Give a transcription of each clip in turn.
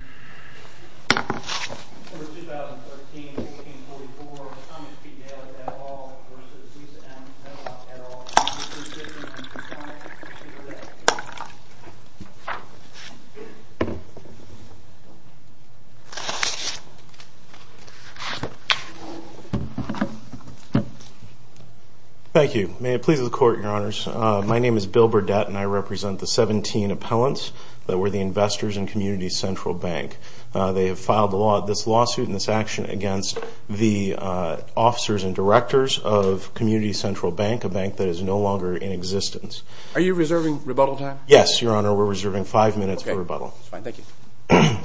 v. Bill Burdett Thank you. May it please the Court, Your Honors. My name is Bill Burdett and I represent the They have filed this lawsuit and this action against the officers and directors of Community Central Bank, a bank that is no longer in existence. Are you reserving rebuttal time? Yes, Your Honor. We're reserving five minutes for rebuttal. Okay. That's fine. Thank you.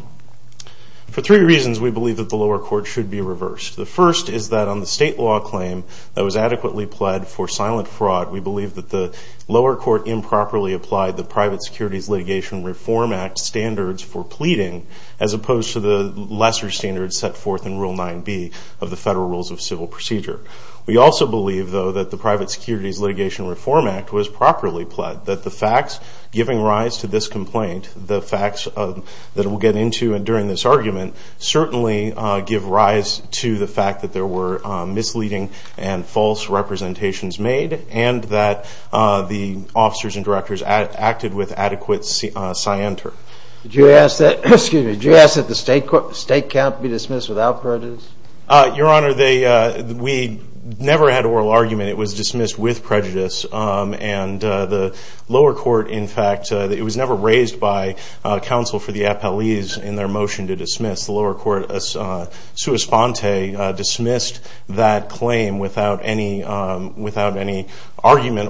For three reasons, we believe that the lower court should be reversed. The first is that on the state law claim that was adequately pled for silent fraud, we believe that the lower court improperly applied the Private Securities Litigation Reform Act standards for pleading as opposed to the lesser standards set forth in Rule 9b of the Federal Rules of Civil Procedure. We also believe, though, that the Private Securities Litigation Reform Act was properly pled, that the facts giving rise to this complaint, the facts that we'll get into during this argument, certainly give rise to the fact that there were misleading and false representations made and that the officers and directors acted with adequate scienter. Did you ask that the state can't be dismissed without prejudice? Your Honor, we never had an oral argument. It was dismissed with prejudice. And the lower court, in fact, it was never raised by counsel for the appellees in their motion to dismiss. The lower court, sua sponte, dismissed that claim without any argument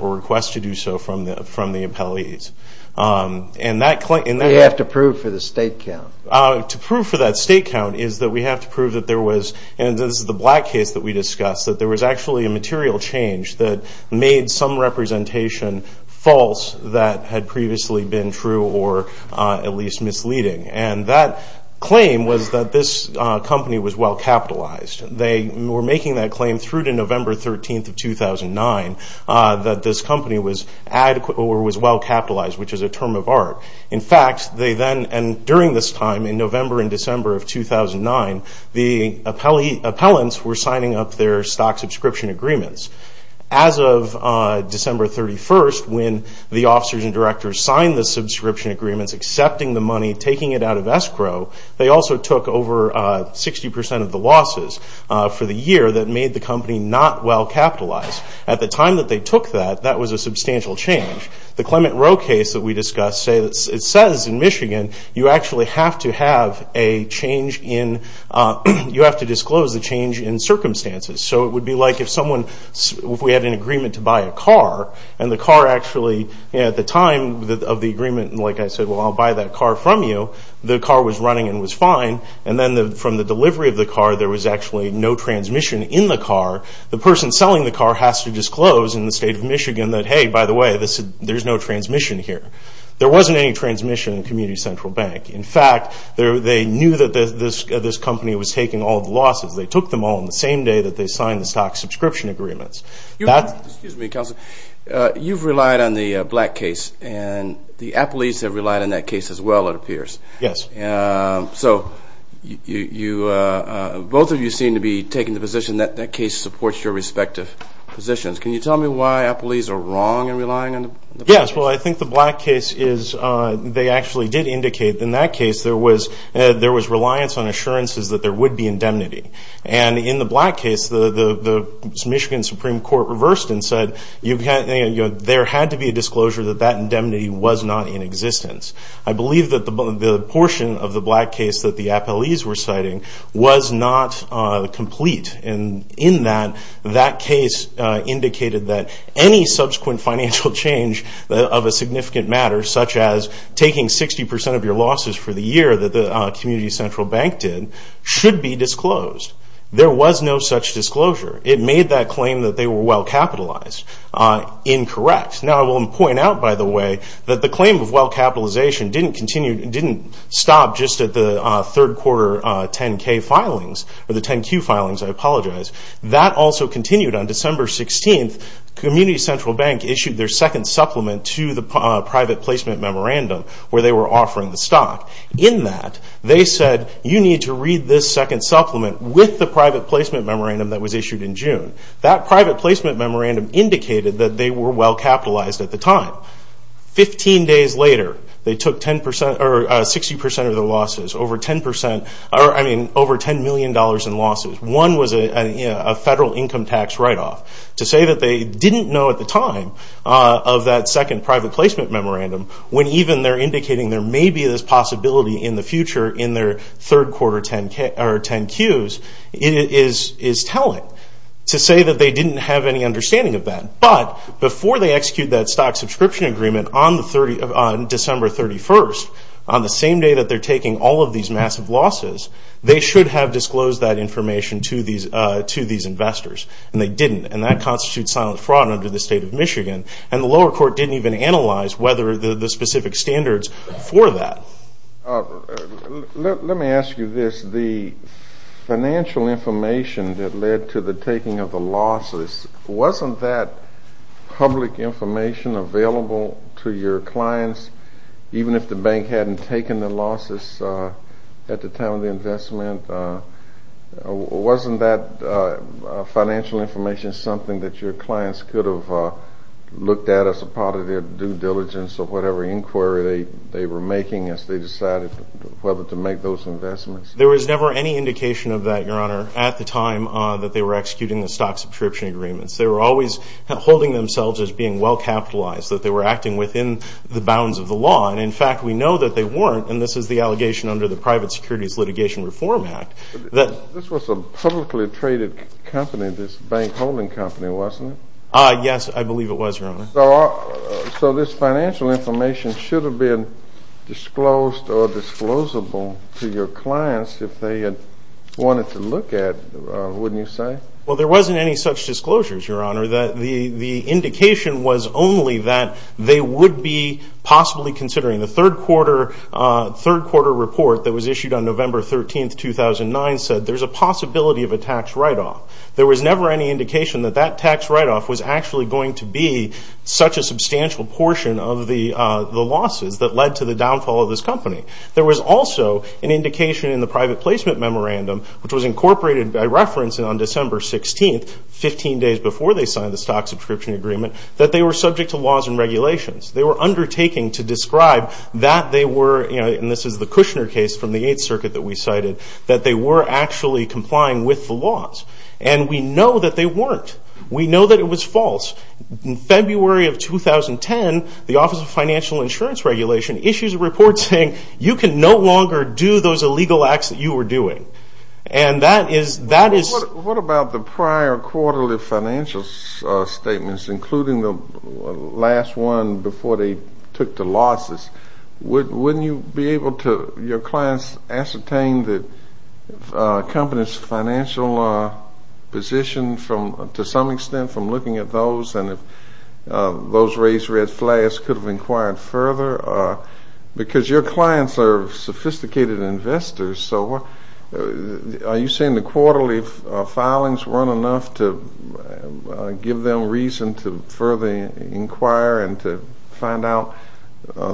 or request to do so from the appellees. And that claim... We have to prove for the state count. To prove for that state count is that we have to prove that there was, and this is the Black case that we discussed, that there was actually a material change that made some representation false that had previously been true or at least misleading. And that claim was that this company was well capitalized. They were making that claim through to November 13th of 2009, that this company was well capitalized, which is a term of art. In fact, they then, and during this time, in November and December of 2009, the appellants were signing up their stock subscription agreements. As of December 31st, when the officers and directors signed the subscription agreements, accepting the money, taking it out of escrow, they also took over 60% of the losses for the year that made the company not well capitalized. At the time that they took that, that was a substantial change. The Clement Rowe case that we discussed, it says in Michigan, you actually have to have a change in, you have to disclose the change in circumstances. So it would be like if someone, if we had an agreement to buy a car, and the car actually, at the time of the agreement, like I said, well, I'll buy that car from you. The car was running and was fine. And then from the delivery of the car, there was actually no transmission in the car. The person selling the car has to disclose in the state of Michigan that, hey, by the way, there's no transmission here. There wasn't any transmission in Community Central Bank. In fact, they knew that this company was taking all the losses. They took them all on the same day that they signed the stock subscription agreements. Excuse me, Counselor. You've relied on the Black case, and the Applees have relied on that case as well, it appears. Yes. So both of you seem to be taking the position that that case supports your respective positions. Can you tell me why Applees are wrong in relying on the Black case? Yes. Well, I think the Black case is they actually did indicate in that case there was reliance on assurances that there would be indemnity. And in the Black case, the Michigan Supreme Court reversed and said there had to be a disclosure that that indemnity was not in existence. I believe that the portion of the Black case that the Applees were citing was not complete. And in that, that case indicated that any subsequent financial change of a significant matter, such as taking 60% of your losses for the year that the Community Central Bank did, should be disclosed. There was no such disclosure. It made that claim that they were well capitalized incorrect. Now, I will point out, by the way, that the claim of well capitalization didn't continue, didn't stop just at the third quarter 10-K filings, or the 10-Q filings, I apologize. That also continued on December 16th. The Community Central Bank issued their second supplement to the private placement memorandum where they were offering the stock. In that, they said you need to read this second supplement with the private placement memorandum that was issued in June. That private placement memorandum indicated that they were well capitalized at the time. Fifteen days later, they took 60% of their losses, over $10 million in losses. One was a federal income tax write-off. To say that they didn't know at the time of that second private placement memorandum, when even they're indicating there may be this possibility in the future in their third quarter 10-Qs, is telling. To say that they didn't have any understanding of that, but before they execute that stock subscription agreement on December 31st, on the same day that they're taking all of these massive losses, they should have disclosed that information to these investors, and they didn't. And that constitutes silent fraud under the state of Michigan. And the lower court didn't even analyze whether the specific standards for that. Let me ask you this. The financial information that led to the taking of the losses, wasn't that public information available to your clients, even if the bank hadn't taken the losses at the time of the investment? Wasn't that financial information something that your clients could have looked at as a part of their due diligence of whatever inquiry they were making as they decided whether to make those investments? There was never any indication of that, Your Honor, at the time that they were executing the stock subscription agreements. They were always holding themselves as being well capitalized, that they were acting within the bounds of the law. And, in fact, we know that they weren't, and this is the allegation under the Private Securities Litigation Reform Act. This was a publicly traded company, this bank holding company, wasn't it? Yes, I believe it was, Your Honor. So this financial information should have been disclosed or disclosable to your clients if they had wanted to look at it, wouldn't you say? Well, there wasn't any such disclosures, Your Honor. The indication was only that they would be possibly considering the third quarter report that was issued on November 13, 2009, said there's a possibility of a tax write-off. There was never any indication that that tax write-off was actually going to be such a substantial portion of the losses that led to the downfall of this company. There was also an indication in the private placement memorandum, which was incorporated by reference on December 16th, 15 days before they signed the stock subscription agreement, that they were subject to laws and regulations. They were undertaking to describe that they were, and this is the Kushner case from the Eighth Circuit that we cited, that they were actually complying with the laws. And we know that they weren't. We know that it was false. In February of 2010, the Office of Financial Insurance Regulation issued a report saying, you can no longer do those illegal acts that you were doing. And that is... What about the prior quarterly financial statements, including the last one, before they took the losses? Wouldn't you be able to, your clients, ascertain the company's financial position to some extent from looking at those, and if those raised red flags could have inquired further? Because your clients are sophisticated investors. So are you saying the quarterly filings weren't enough to give them reason to further inquire and to find out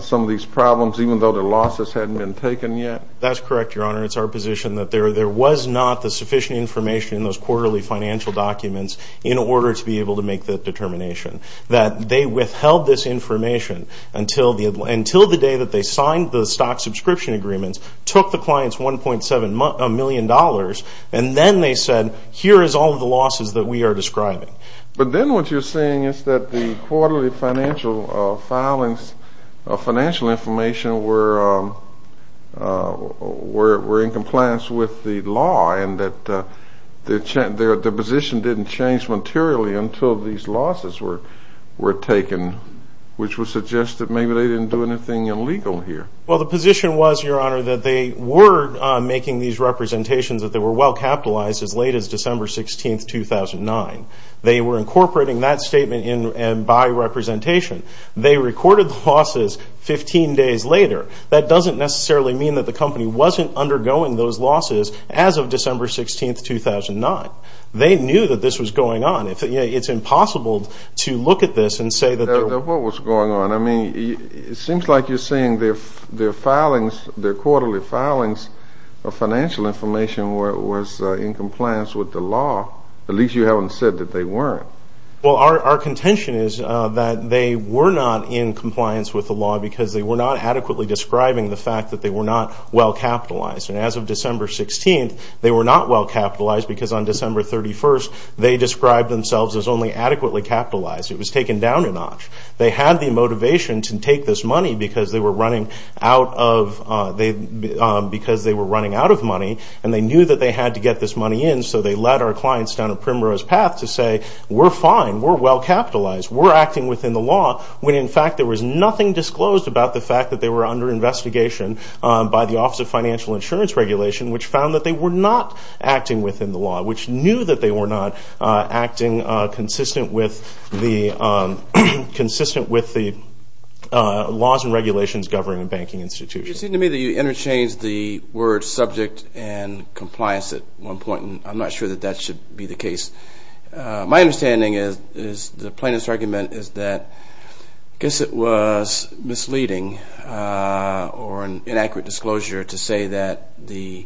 some of these problems, even though the losses hadn't been taken yet? That's correct, Your Honor. It's our position that there was not the sufficient information in those quarterly financial documents in order to be able to make that determination. That they withheld this information until the day that they signed the stock subscription agreements, took the clients $1.7 million, and then they said, here is all of the losses that we are describing. But then what you're saying is that the quarterly financial filings, financial information were in compliance with the law and that the position didn't change materially until these losses were taken, which would suggest that maybe they didn't do anything illegal here. Well, the position was, Your Honor, that they were making these representations that they were well capitalized as late as December 16th, 2009. They were incorporating that statement by representation. They recorded the losses 15 days later. That doesn't necessarily mean that the company wasn't undergoing those losses as of December 16th, 2009. They knew that this was going on. It's impossible to look at this and say that they were. What was going on? Your Honor, I mean, it seems like you're saying their filings, their quarterly filings of financial information was in compliance with the law. At least you haven't said that they weren't. Well, our contention is that they were not in compliance with the law because they were not adequately describing the fact that they were not well capitalized. And as of December 16th, they were not well capitalized because on December 31st, they described themselves as only adequately capitalized. It was taken down a notch. They had the motivation to take this money because they were running out of money, and they knew that they had to get this money in, so they led our clients down a primrose path to say, we're fine, we're well capitalized, we're acting within the law, when in fact there was nothing disclosed about the fact that they were under investigation by the Office of Financial Insurance Regulation, which found that they were not acting within the law, which knew that they were not acting consistent with the laws and regulations governing a banking institution. It seemed to me that you interchanged the words subject and compliance at one point, and I'm not sure that that should be the case. My understanding is the plaintiff's argument is that I guess it was misleading or an inaccurate disclosure to say that the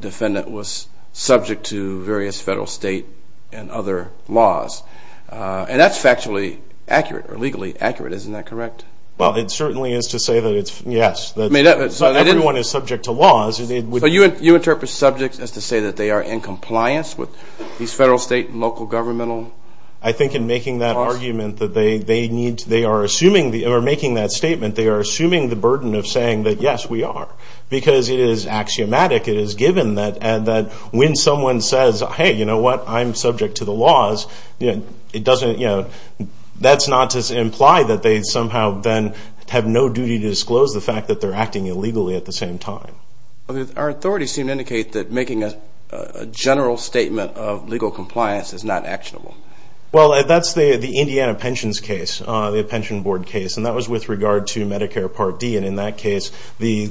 defendant was subject to various federal, state, and other laws. And that's factually accurate or legally accurate, isn't that correct? Well, it certainly is to say that yes, everyone is subject to laws. So you interpret subject as to say that they are in compliance with these federal, state, and local governmental laws? I think in making that argument that they need to, they are assuming, or making that statement, they are assuming the burden of saying that yes, we are. Because it is axiomatic, it is given that when someone says, hey, you know what, I'm subject to the laws, it doesn't, you know, that's not to imply that they somehow then have no duty to disclose the fact that they're acting illegally at the same time. Our authorities seem to indicate that making a general statement of legal compliance is not actionable. Well, that's the Indiana pensions case, the pension board case. And that was with regard to Medicare Part D. And in that case, the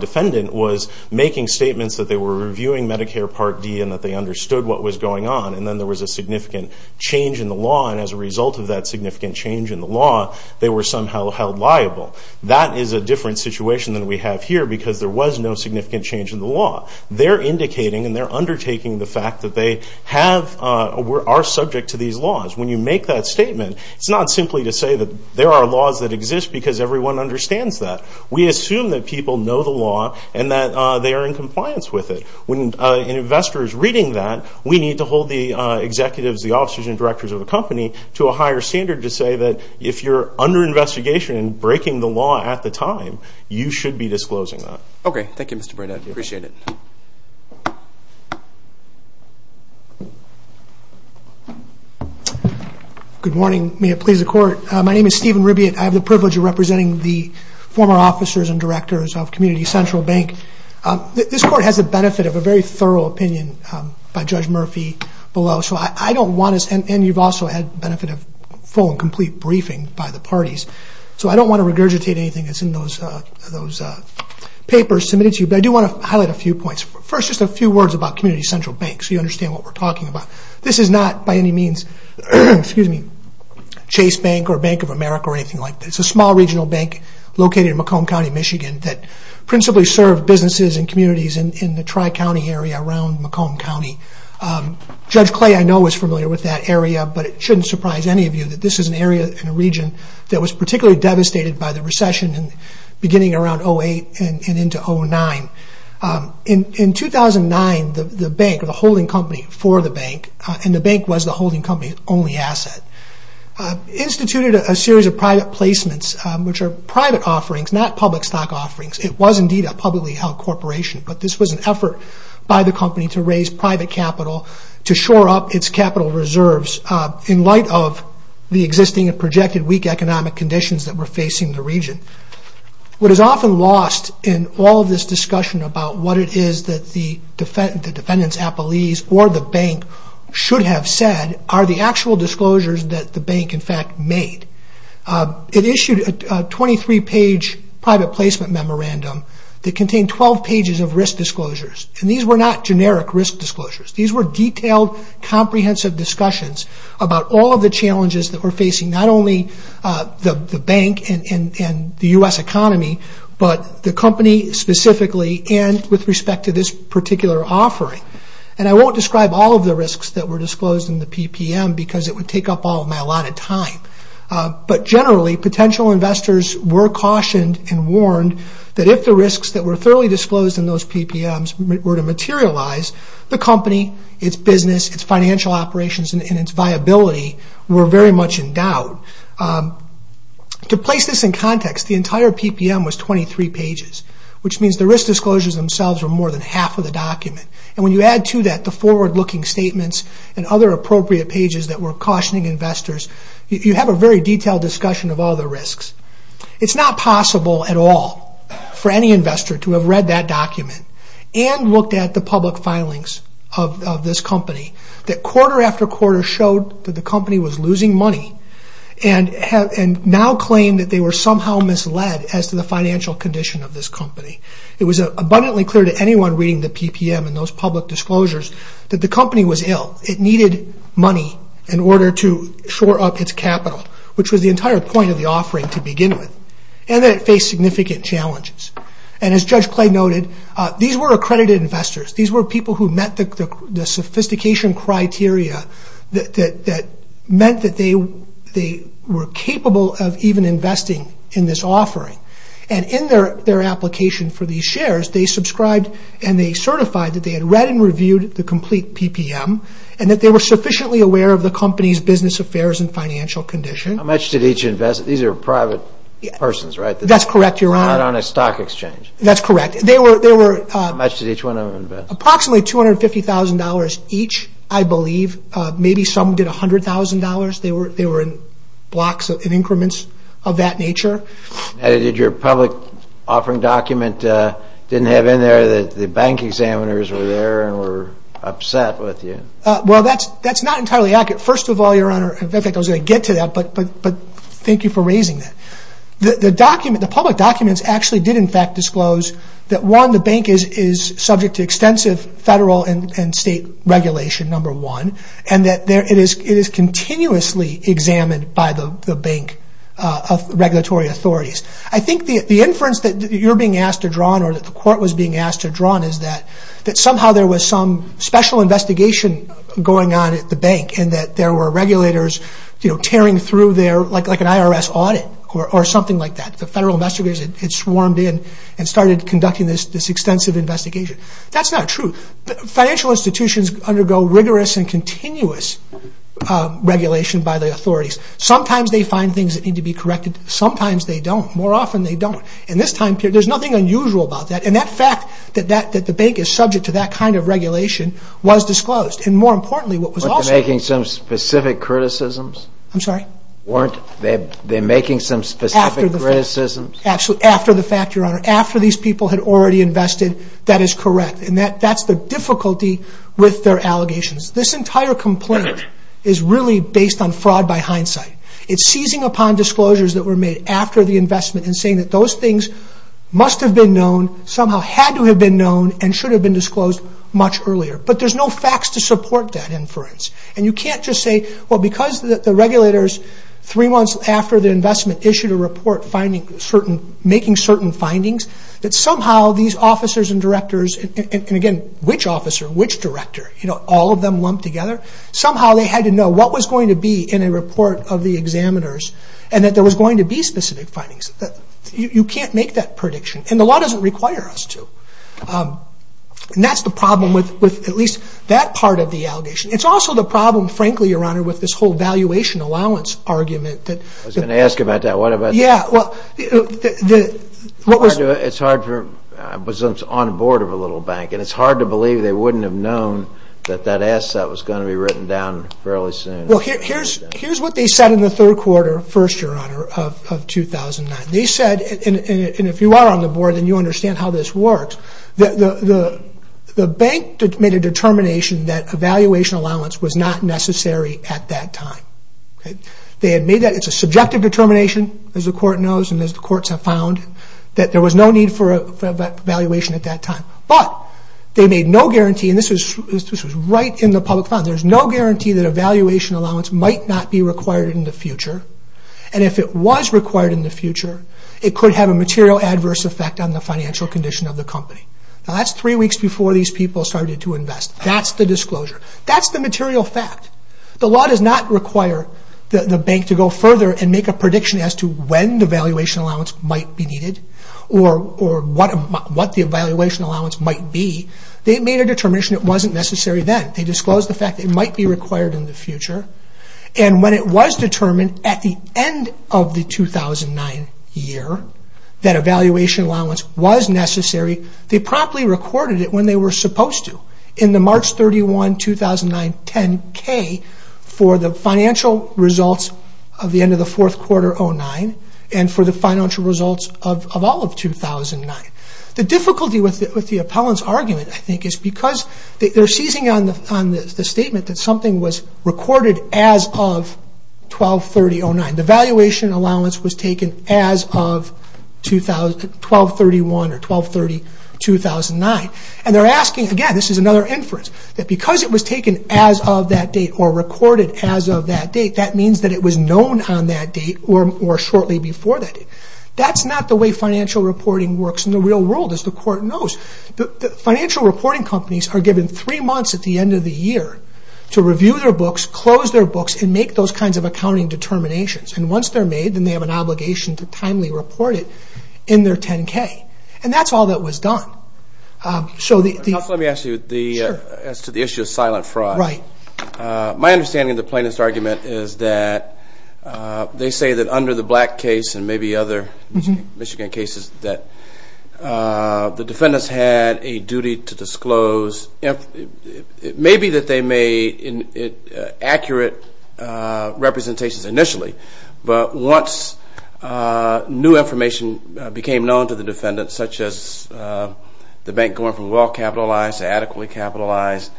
defendant was making statements that they were reviewing Medicare Part D and that they understood what was going on. And then there was a significant change in the law. And as a result of that significant change in the law, they were somehow held liable. That is a different situation than we have here because there was no significant change in the law. They're indicating and they're undertaking the fact that they have or are subject to these laws. When you make that statement, it's not simply to say that there are laws that exist because everyone understands that. We assume that people know the law and that they are in compliance with it. When an investor is reading that, we need to hold the executives, the officers and directors of the company to a higher standard to say that if you're under investigation and breaking the law at the time, you should be disclosing that. Okay, thank you, Mr. Breda. I appreciate it. Good morning. May it please the Court. My name is Stephen Ribbett. I have the privilege of representing the former officers and directors of Community Central Bank. This Court has the benefit of a very thorough opinion by Judge Murphy below. And you've also had the benefit of full and complete briefing by the parties. So I don't want to regurgitate anything that's in those papers submitted to you, but I do want to highlight a few points. First, just a few words about Community Central Bank so you understand what we're talking about. This is not by any means Chase Bank or Bank of America or anything like that. It's a small regional bank located in Macomb County, Michigan that principally served businesses and communities in the tri-county area around Macomb County. Judge Clay, I know, is familiar with that area, but it shouldn't surprise any of you that this is an area in the region that was particularly devastated by the recession beginning around 2008 and into 2009. In 2009, the bank, the holding company for the bank, and the bank was the holding company's only asset, instituted a series of private placements, which are private offerings, not public stock offerings. It was indeed a publicly held corporation, but this was an effort by the company to raise private capital to shore up its capital reserves in light of the existing and projected weak economic conditions that were facing the region. What is often lost in all this discussion about what it is that the defendant's appellees or the bank should have said are the actual disclosures that the bank, in fact, made. It issued a 23-page private placement memorandum that contained 12 pages of risk disclosures, and these were not generic risk disclosures. These were detailed, comprehensive discussions about all of the challenges that were facing not only the bank and the U.S. economy, but the company specifically and with respect to this particular offering. I won't describe all of the risks that were disclosed in the PPM because it would take up all of my allotted time, but generally potential investors were cautioned and warned that if the risks that were thoroughly disclosed in those PPMs were to materialize, the company, its business, its financial operations, and its viability were very much in doubt. To place this in context, the entire PPM was 23 pages, which means the risk disclosures themselves were more than half of the document, and when you add to that the forward-looking statements and other appropriate pages that were cautioning investors, you have a very detailed discussion of all the risks. It's not possible at all for any investor to have read that document and looked at the public filings of this company, that quarter after quarter showed that the company was losing money and now claim that they were somehow misled as to the financial condition of this company. It was abundantly clear to anyone reading the PPM and those public disclosures that the company was ill. It needed money in order to shore up its capital, which was the entire point of the offering to begin with, and that it faced significant challenges. And as Judge Clay noted, these were accredited investors. These were people who met the sophistication criteria that meant that they were capable of even investing in this offering, and in their application for these shares, they subscribed and they certified that they had read and reviewed the complete PPM and that they were sufficiently aware of the company's business affairs and financial condition. How much did each invest? These are private persons, right? That's correct, Your Honor. Not on a stock exchange. That's correct. How much did each one of them invest? Approximately $250,000 each, I believe. Maybe some did $100,000. They were in blocks and increments of that nature. And did your public offering document didn't have in there that the bank examiners were there and were upset with you? Well, that's not entirely accurate. First of all, Your Honor, in fact, I was going to get to that, but thank you for raising that. The public documents actually did, in fact, disclose that, one, the bank is subject to extensive federal and state regulation, number one, and that it is continuously examined by the bank regulatory authorities. I think the inference that you're being asked to draw on or that the court was being asked to draw on is that you know, tearing through their, like an IRS audit or something like that. The federal investigators had swarmed in and started conducting this extensive investigation. That's not true. Financial institutions undergo rigorous and continuous regulation by the authorities. Sometimes they find things that need to be corrected. Sometimes they don't. More often they don't. In this time period, there's nothing unusual about that, and that fact that the bank is subject to that kind of regulation was disclosed. And more importantly, what was also— Weren't they making some specific criticisms? I'm sorry? Weren't they making some specific criticisms? Absolutely. After the fact, Your Honor. After these people had already invested, that is correct. And that's the difficulty with their allegations. This entire complaint is really based on fraud by hindsight. It's seizing upon disclosures that were made after the investment and saying that those things must have been known, somehow had to have been known, and should have been disclosed much earlier. But there's no facts to support that inference. And you can't just say, well, because the regulators, three months after the investment, issued a report making certain findings, that somehow these officers and directors— and again, which officer, which director? You know, all of them lumped together. Somehow they had to know what was going to be in a report of the examiners and that there was going to be specific findings. You can't make that prediction. And the law doesn't require us to. And that's the problem with at least that part of the allegation. It's also the problem, frankly, Your Honor, with this whole valuation allowance argument. I was going to ask about that. Yeah, well, what was— It's hard for—I was on board of a little bank, and it's hard to believe they wouldn't have known that that asset was going to be written down fairly soon. Well, here's what they said in the third quarter, first, Your Honor, of 2009. They said, and if you are on the board, then you understand how this works, that the bank made a determination that a valuation allowance was not necessary at that time. They had made that. It's a subjective determination, as the court knows and as the courts have found, that there was no need for a valuation at that time. But they made no guarantee, and this was right in the public fund. There's no guarantee that a valuation allowance might not be required in the future. And if it was required in the future, it could have a material adverse effect on the financial condition of the company. Now, that's three weeks before these people started to invest. That's the disclosure. That's the material fact. The law does not require the bank to go further and make a prediction as to when the valuation allowance might be needed or what the valuation allowance might be. They made a determination it wasn't necessary then. They disclosed the fact it might be required in the future. And when it was determined at the end of the 2009 year that a valuation allowance was necessary, they promptly recorded it when they were supposed to, in the March 31, 2009 10-K, for the financial results of the end of the fourth quarter of 2009 and for the financial results of all of 2009. The difficulty with the appellant's argument, I think, is because they're seizing on the statement that something was recorded as of 12-30-09. The valuation allowance was taken as of 12-31 or 12-30-2009. And they're asking, again, this is another inference, that because it was taken as of that date or recorded as of that date, that means that it was known on that date or shortly before that date. That's not the way financial reporting works in the real world, as the court knows. Financial reporting companies are given three months at the end of the year to review their books, close their books, and make those kinds of accounting determinations. And once they're made, then they have an obligation to timely report it in their 10-K. And that's all that was done. Let me ask you as to the issue of silent fraud. My understanding of the plaintiff's argument is that they say that under the Black case and maybe other Michigan cases that the defendants had a duty to disclose. It may be that they made accurate representations initially, but once new information became known to the defendants, such as the bank going from well-capitalized to adequately capitalized,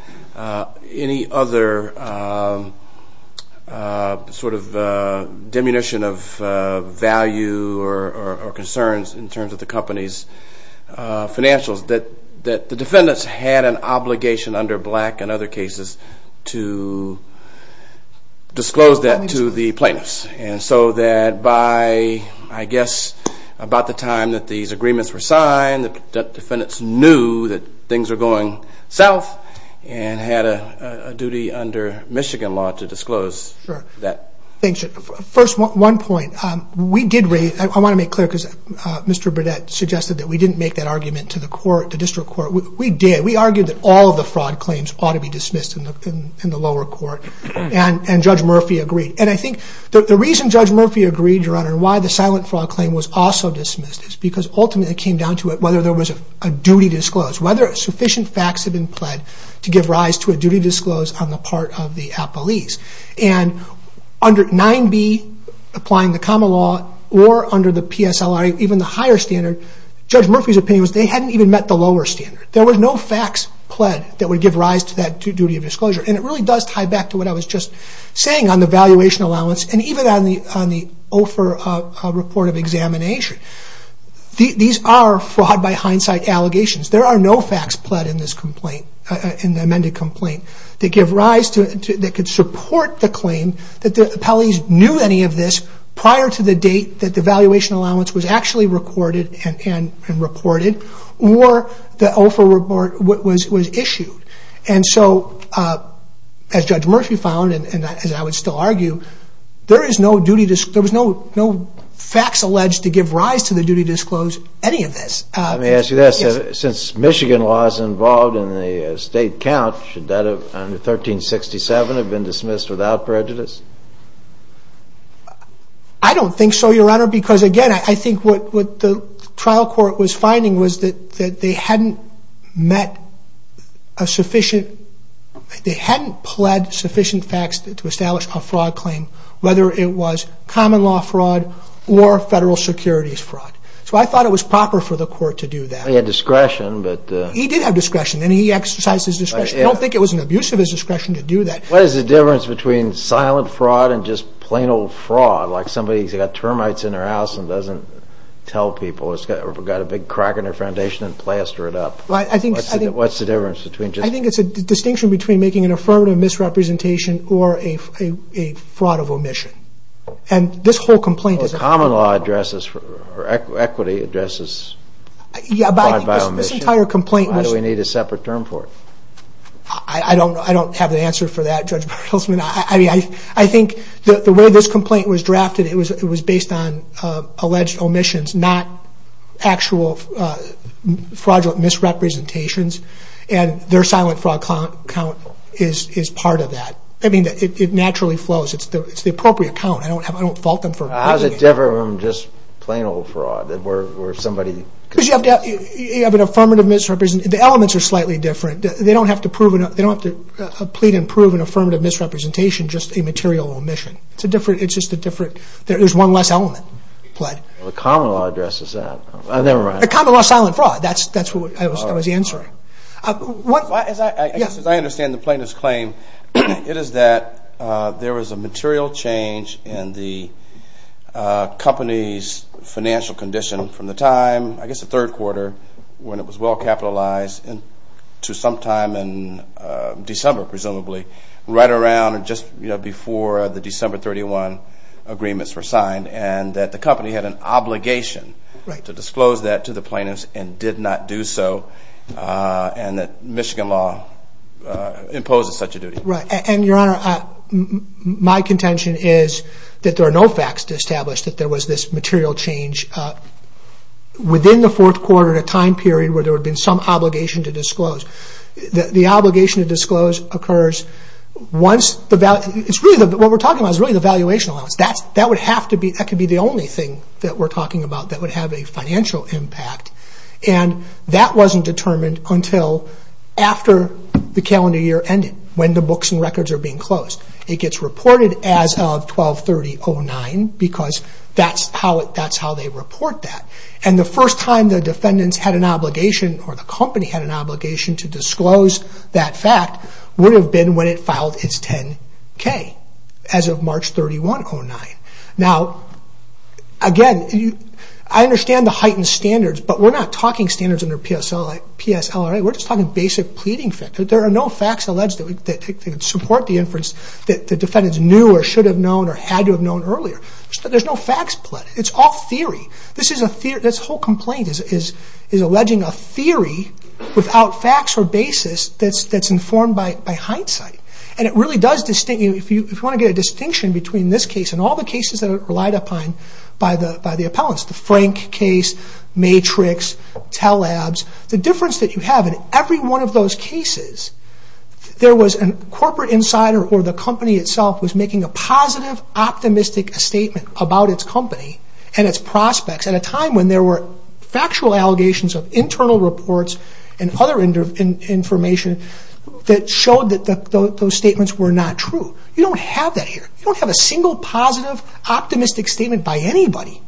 any other sort of diminution of value or concerns in terms of the company's financials, that the defendants had an obligation under Black and other cases to disclose that to the plaintiffs. And so that by, I guess, about the time that these agreements were signed, the defendants knew that things were going south and had a duty under Michigan law to disclose that. Sure. Thanks. First, one point. I want to make clear because Mr. Burdett suggested that we didn't make that argument to the district court. We did. We argued that all of the fraud claims ought to be dismissed in the lower court, and Judge Murphy agreed. And I think the reason Judge Murphy agreed, Your Honor, and why the silent fraud claim was also dismissed is because ultimately it came down to it whether there was a duty disclosed, whether sufficient facts had been pled to give rise to a duty disclosed on the part of the appellees. And under 9b, applying the common law, or under the PSLR, even the higher standard, Judge Murphy's opinion was they hadn't even met the lower standard. There were no facts pled that would give rise to that duty of disclosure. And it really does tie back to what I was just saying on the valuation allowance and even on the OFER report of examination. These are fraud by hindsight allegations. There are no facts pled in this complaint, in the amended complaint, that could support the claim that the appellees knew any of this prior to the date that the valuation allowance was actually recorded and reported or the OFER report was issued. And so, as Judge Murphy found, and as I would still argue, there was no facts alleged to give rise to the duty disclosed, any of this. Let me ask you this. Since Michigan law is involved in the state count, should that have, under 1367, have been dismissed without prejudice? I don't think so, Your Honor, because again, I think what the trial court was finding was that they hadn't met a sufficient, they hadn't pled sufficient facts to establish a fraud claim, whether it was common law fraud or federal securities fraud. So I thought it was proper for the court to do that. He had discretion, but... He did have discretion, and he exercised his discretion. I don't think it was an abuse of his discretion to do that. What is the difference between silent fraud and just plain old fraud, like somebody who's got termites in their house and doesn't tell people, or got a big crack in their foundation and plastered it up? What's the difference between just... I think it's a distinction between making an affirmative misrepresentation or a fraud of omission. And this whole complaint is... Well, common law addresses, or equity addresses fraud by omission. Yeah, but I think this entire complaint was... Why do we need a separate term for it? I don't know. I don't have the answer for that, Judge Bertelsman. I mean, I think the way this complaint was drafted, it was based on alleged omissions, not actual fraudulent misrepresentations. And their silent fraud count is part of that. I mean, it naturally flows. It's the appropriate count. I don't fault them for... How is it different from just plain old fraud, where somebody... Because you have an affirmative misrepresentation. The elements are slightly different. They don't have to plead and prove an affirmative misrepresentation, just a material omission. It's just a different... There's one less element. The common law addresses that. Never mind. Common law, silent fraud. That's what I was answering. As I understand the plaintiff's claim, it is that there was a material change in the company's financial condition from the time, I guess the third quarter, when it was well capitalized to sometime in December, presumably, right around just before the December 31 agreements were signed, and that the company had an obligation to disclose that to the plaintiffs and did not do so, and that Michigan law imposes such a duty. Right. And, Your Honor, my contention is that there are no facts to establish that there was this material change within the fourth quarter The obligation to disclose occurs once... What we're talking about is really the valuation allowance. That could be the only thing that we're talking about that would have a financial impact, and that wasn't determined until after the calendar year ended, when the books and records are being closed. It gets reported as of 12-30-09 because that's how they report that. And the first time the defendants had an obligation or the company had an obligation to disclose that fact would have been when it filed its 10-K, as of March 31-09. Now, again, I understand the heightened standards, but we're not talking standards under PSLRA. We're just talking basic pleading facts. There are no facts alleged that support the inference that the defendants knew or should have known or had to have known earlier. There's no facts pleaded. It's all theory. This whole complaint is alleging a theory without facts or basis that's informed by hindsight. And it really does... If you want to get a distinction between this case and all the cases that are relied upon by the appellants, the Frank case, Matrix, Telabs, the difference that you have in every one of those cases, there was a corporate insider or the company itself was making a positive, optimistic statement about its company and its prospects at a time when there were factual allegations of internal reports and other information that showed that those statements were not true. You don't have that here. You don't have a single positive, optimistic statement by anybody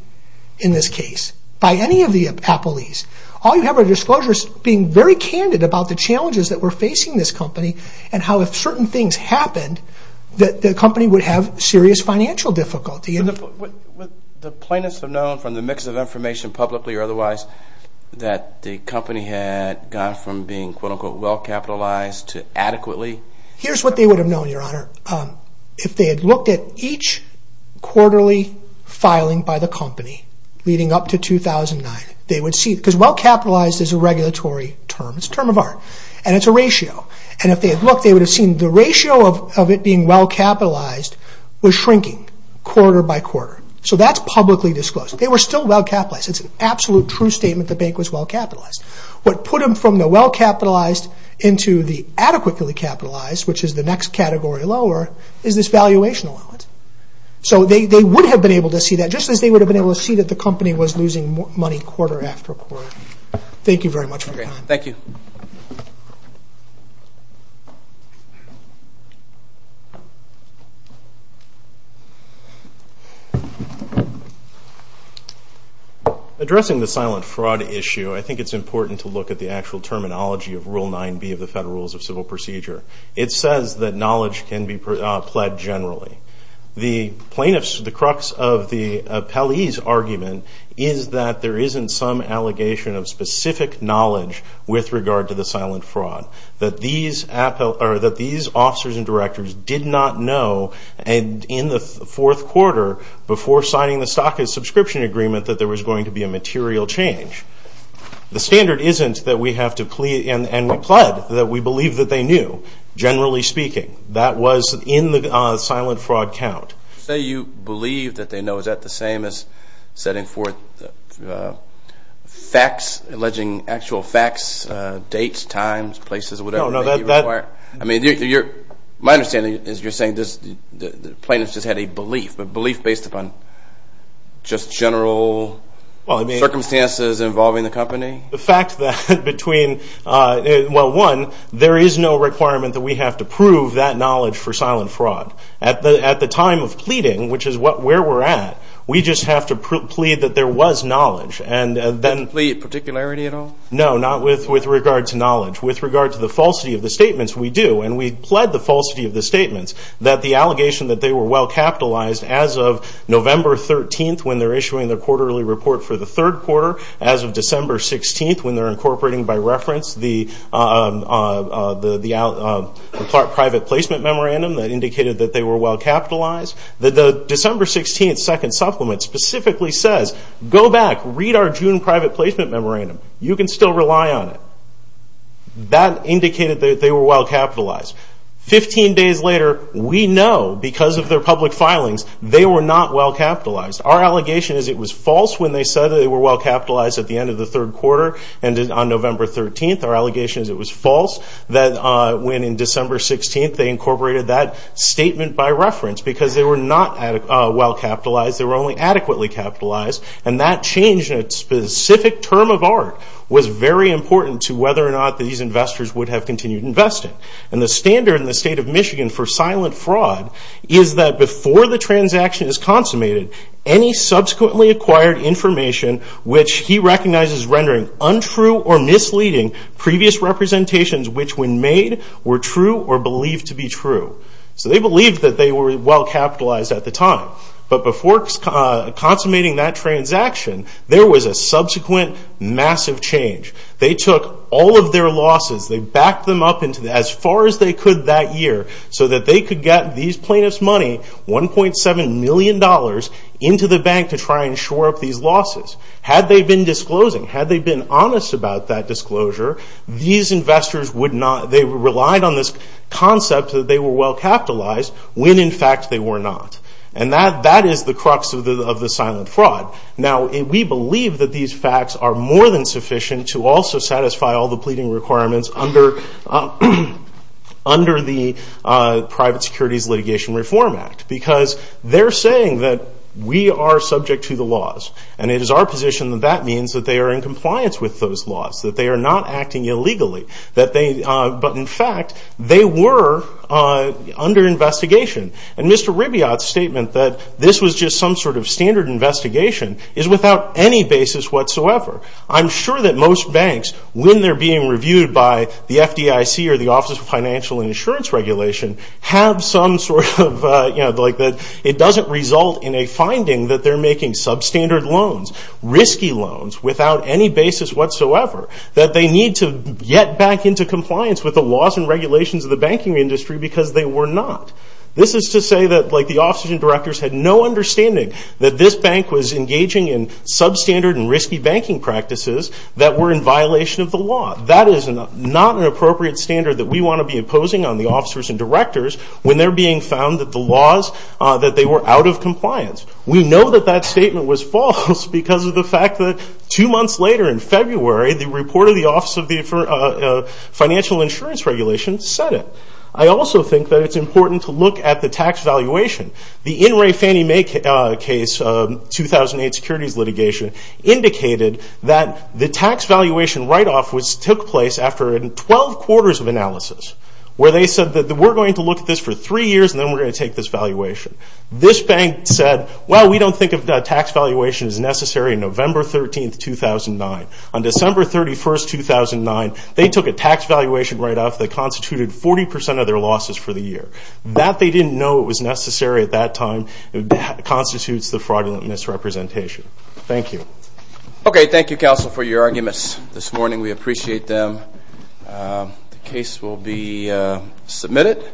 in this case, by any of the appellees. All you have are disclosures being very candid about the challenges that were facing this company and how if certain things happened, the company would have serious financial difficulty. Would the plaintiffs have known from the mix of information, publicly or otherwise, that the company had gone from being quote-unquote well-capitalized to adequately... Here's what they would have known, Your Honor. If they had looked at each quarterly filing by the company leading up to 2009, they would see... Because well-capitalized is a regulatory term. It's a term of art. And it's a ratio. And if they had looked, they would have seen the ratio of it being well-capitalized was shrinking quarter by quarter. So that's publicly disclosed. They were still well-capitalized. It's an absolute true statement the bank was well-capitalized. What put them from the well-capitalized into the adequately capitalized, which is the next category lower, is this valuation allowance. So they would have been able to see that, just as they would have been able to see that the company was losing money quarter after quarter. Thank you very much for your time. Thank you. Addressing the silent fraud issue, I think it's important to look at the actual terminology of Rule 9B of the Federal Rules of Civil Procedure. It says that knowledge can be pled generally. The plaintiffs, the crux of the appellee's argument is that there isn't some allegation of specific knowledge with regard to the silent fraud, that these officers and directors did not know in the fourth quarter before signing the stock and subscription agreement that there was going to be a material change. The standard isn't that we have to plead and we pled, that we believe that they knew, generally speaking. That was in the silent fraud count. Say you believe that they know. Is that the same as setting forth facts, alleging actual facts, dates, times, places, whatever that you require? I mean, my understanding is you're saying the plaintiffs just had a belief, a belief based upon just general circumstances involving the company? The fact that between, well, one, there is no requirement that we have to prove that knowledge for silent fraud. At the time of pleading, which is where we're at, we just have to plead that there was knowledge. No plea of particularity at all? No, not with regard to knowledge. With regard to the falsity of the statements, we do, and we pled the falsity of the statements, that the allegation that they were well capitalized as of November 13th when they're issuing their quarterly report for the third quarter, as of December 16th when they're incorporating by reference the private placement memorandum that indicated that they were well capitalized, that the December 16th second supplement specifically says, go back, read our June private placement memorandum. You can still rely on it. That indicated that they were well capitalized. Fifteen days later, we know because of their public filings, they were not well capitalized. Our allegation is it was false when they said that they were well capitalized at the end of the third quarter and on November 13th. Our allegation is it was false when in December 16th they incorporated that statement by reference because they were not well capitalized. They were only adequately capitalized, and that change in a specific term of art was very important to whether or not these investors would have continued investing. The standard in the state of Michigan for silent fraud is that before the transaction is consummated, any subsequently acquired information which he recognizes rendering untrue or misleading previous representations which when made were true or believed to be true. They believed that they were well capitalized at the time, but before consummating that transaction, there was a subsequent massive change. They took all of their losses, they backed them up as far as they could that year so that they could get these plaintiffs' money, $1.7 million into the bank to try and shore up these losses. Had they been disclosing, had they been honest about that disclosure, these investors would not, they relied on this concept that they were well capitalized when in fact they were not. And that is the crux of the silent fraud. Now, we believe that these facts are more than sufficient to also satisfy all the pleading requirements under the Private Securities Litigation Reform Act because they're saying that we are subject to the laws and it is our position that that means that they are in compliance with those laws, that they are not acting illegally, but in fact they were under investigation. And Mr. Ribiot's statement that this was just some sort of standard investigation is without any basis whatsoever. I'm sure that most banks, when they're being reviewed by the FDIC or the Office of Financial and Insurance Regulation, have some sort of, you know, like that it doesn't result in a finding that they're making substandard loans, risky loans, without any basis whatsoever, that they need to get back into compliance with the laws and regulations of the banking industry because they were not. This is to say that, like, the officers and directors had no understanding that this bank was engaging in substandard and risky banking practices that were in violation of the law. That is not an appropriate standard that we want to be imposing on the officers and directors when they're being found that the laws, that they were out of compliance. We know that that statement was false because of the fact that two months later in February, the report of the Office of Financial and Insurance Regulation said it. I also think that it's important to look at the tax valuation. The In re Fannie Mae case, 2008 securities litigation, indicated that the tax valuation write-off which took place after 12 quarters of analysis, where they said that we're going to look at this for three years and then we're going to take this valuation. This bank said, well, we don't think that tax valuation is necessary on November 13, 2009. On December 31, 2009, they took a tax valuation write-off that constituted 40% of their losses for the year. That they didn't know it was necessary at that time constitutes the fraudulent misrepresentation. Thank you. Okay, thank you, Counsel, for your arguments this morning. We appreciate them. The case will be submitted.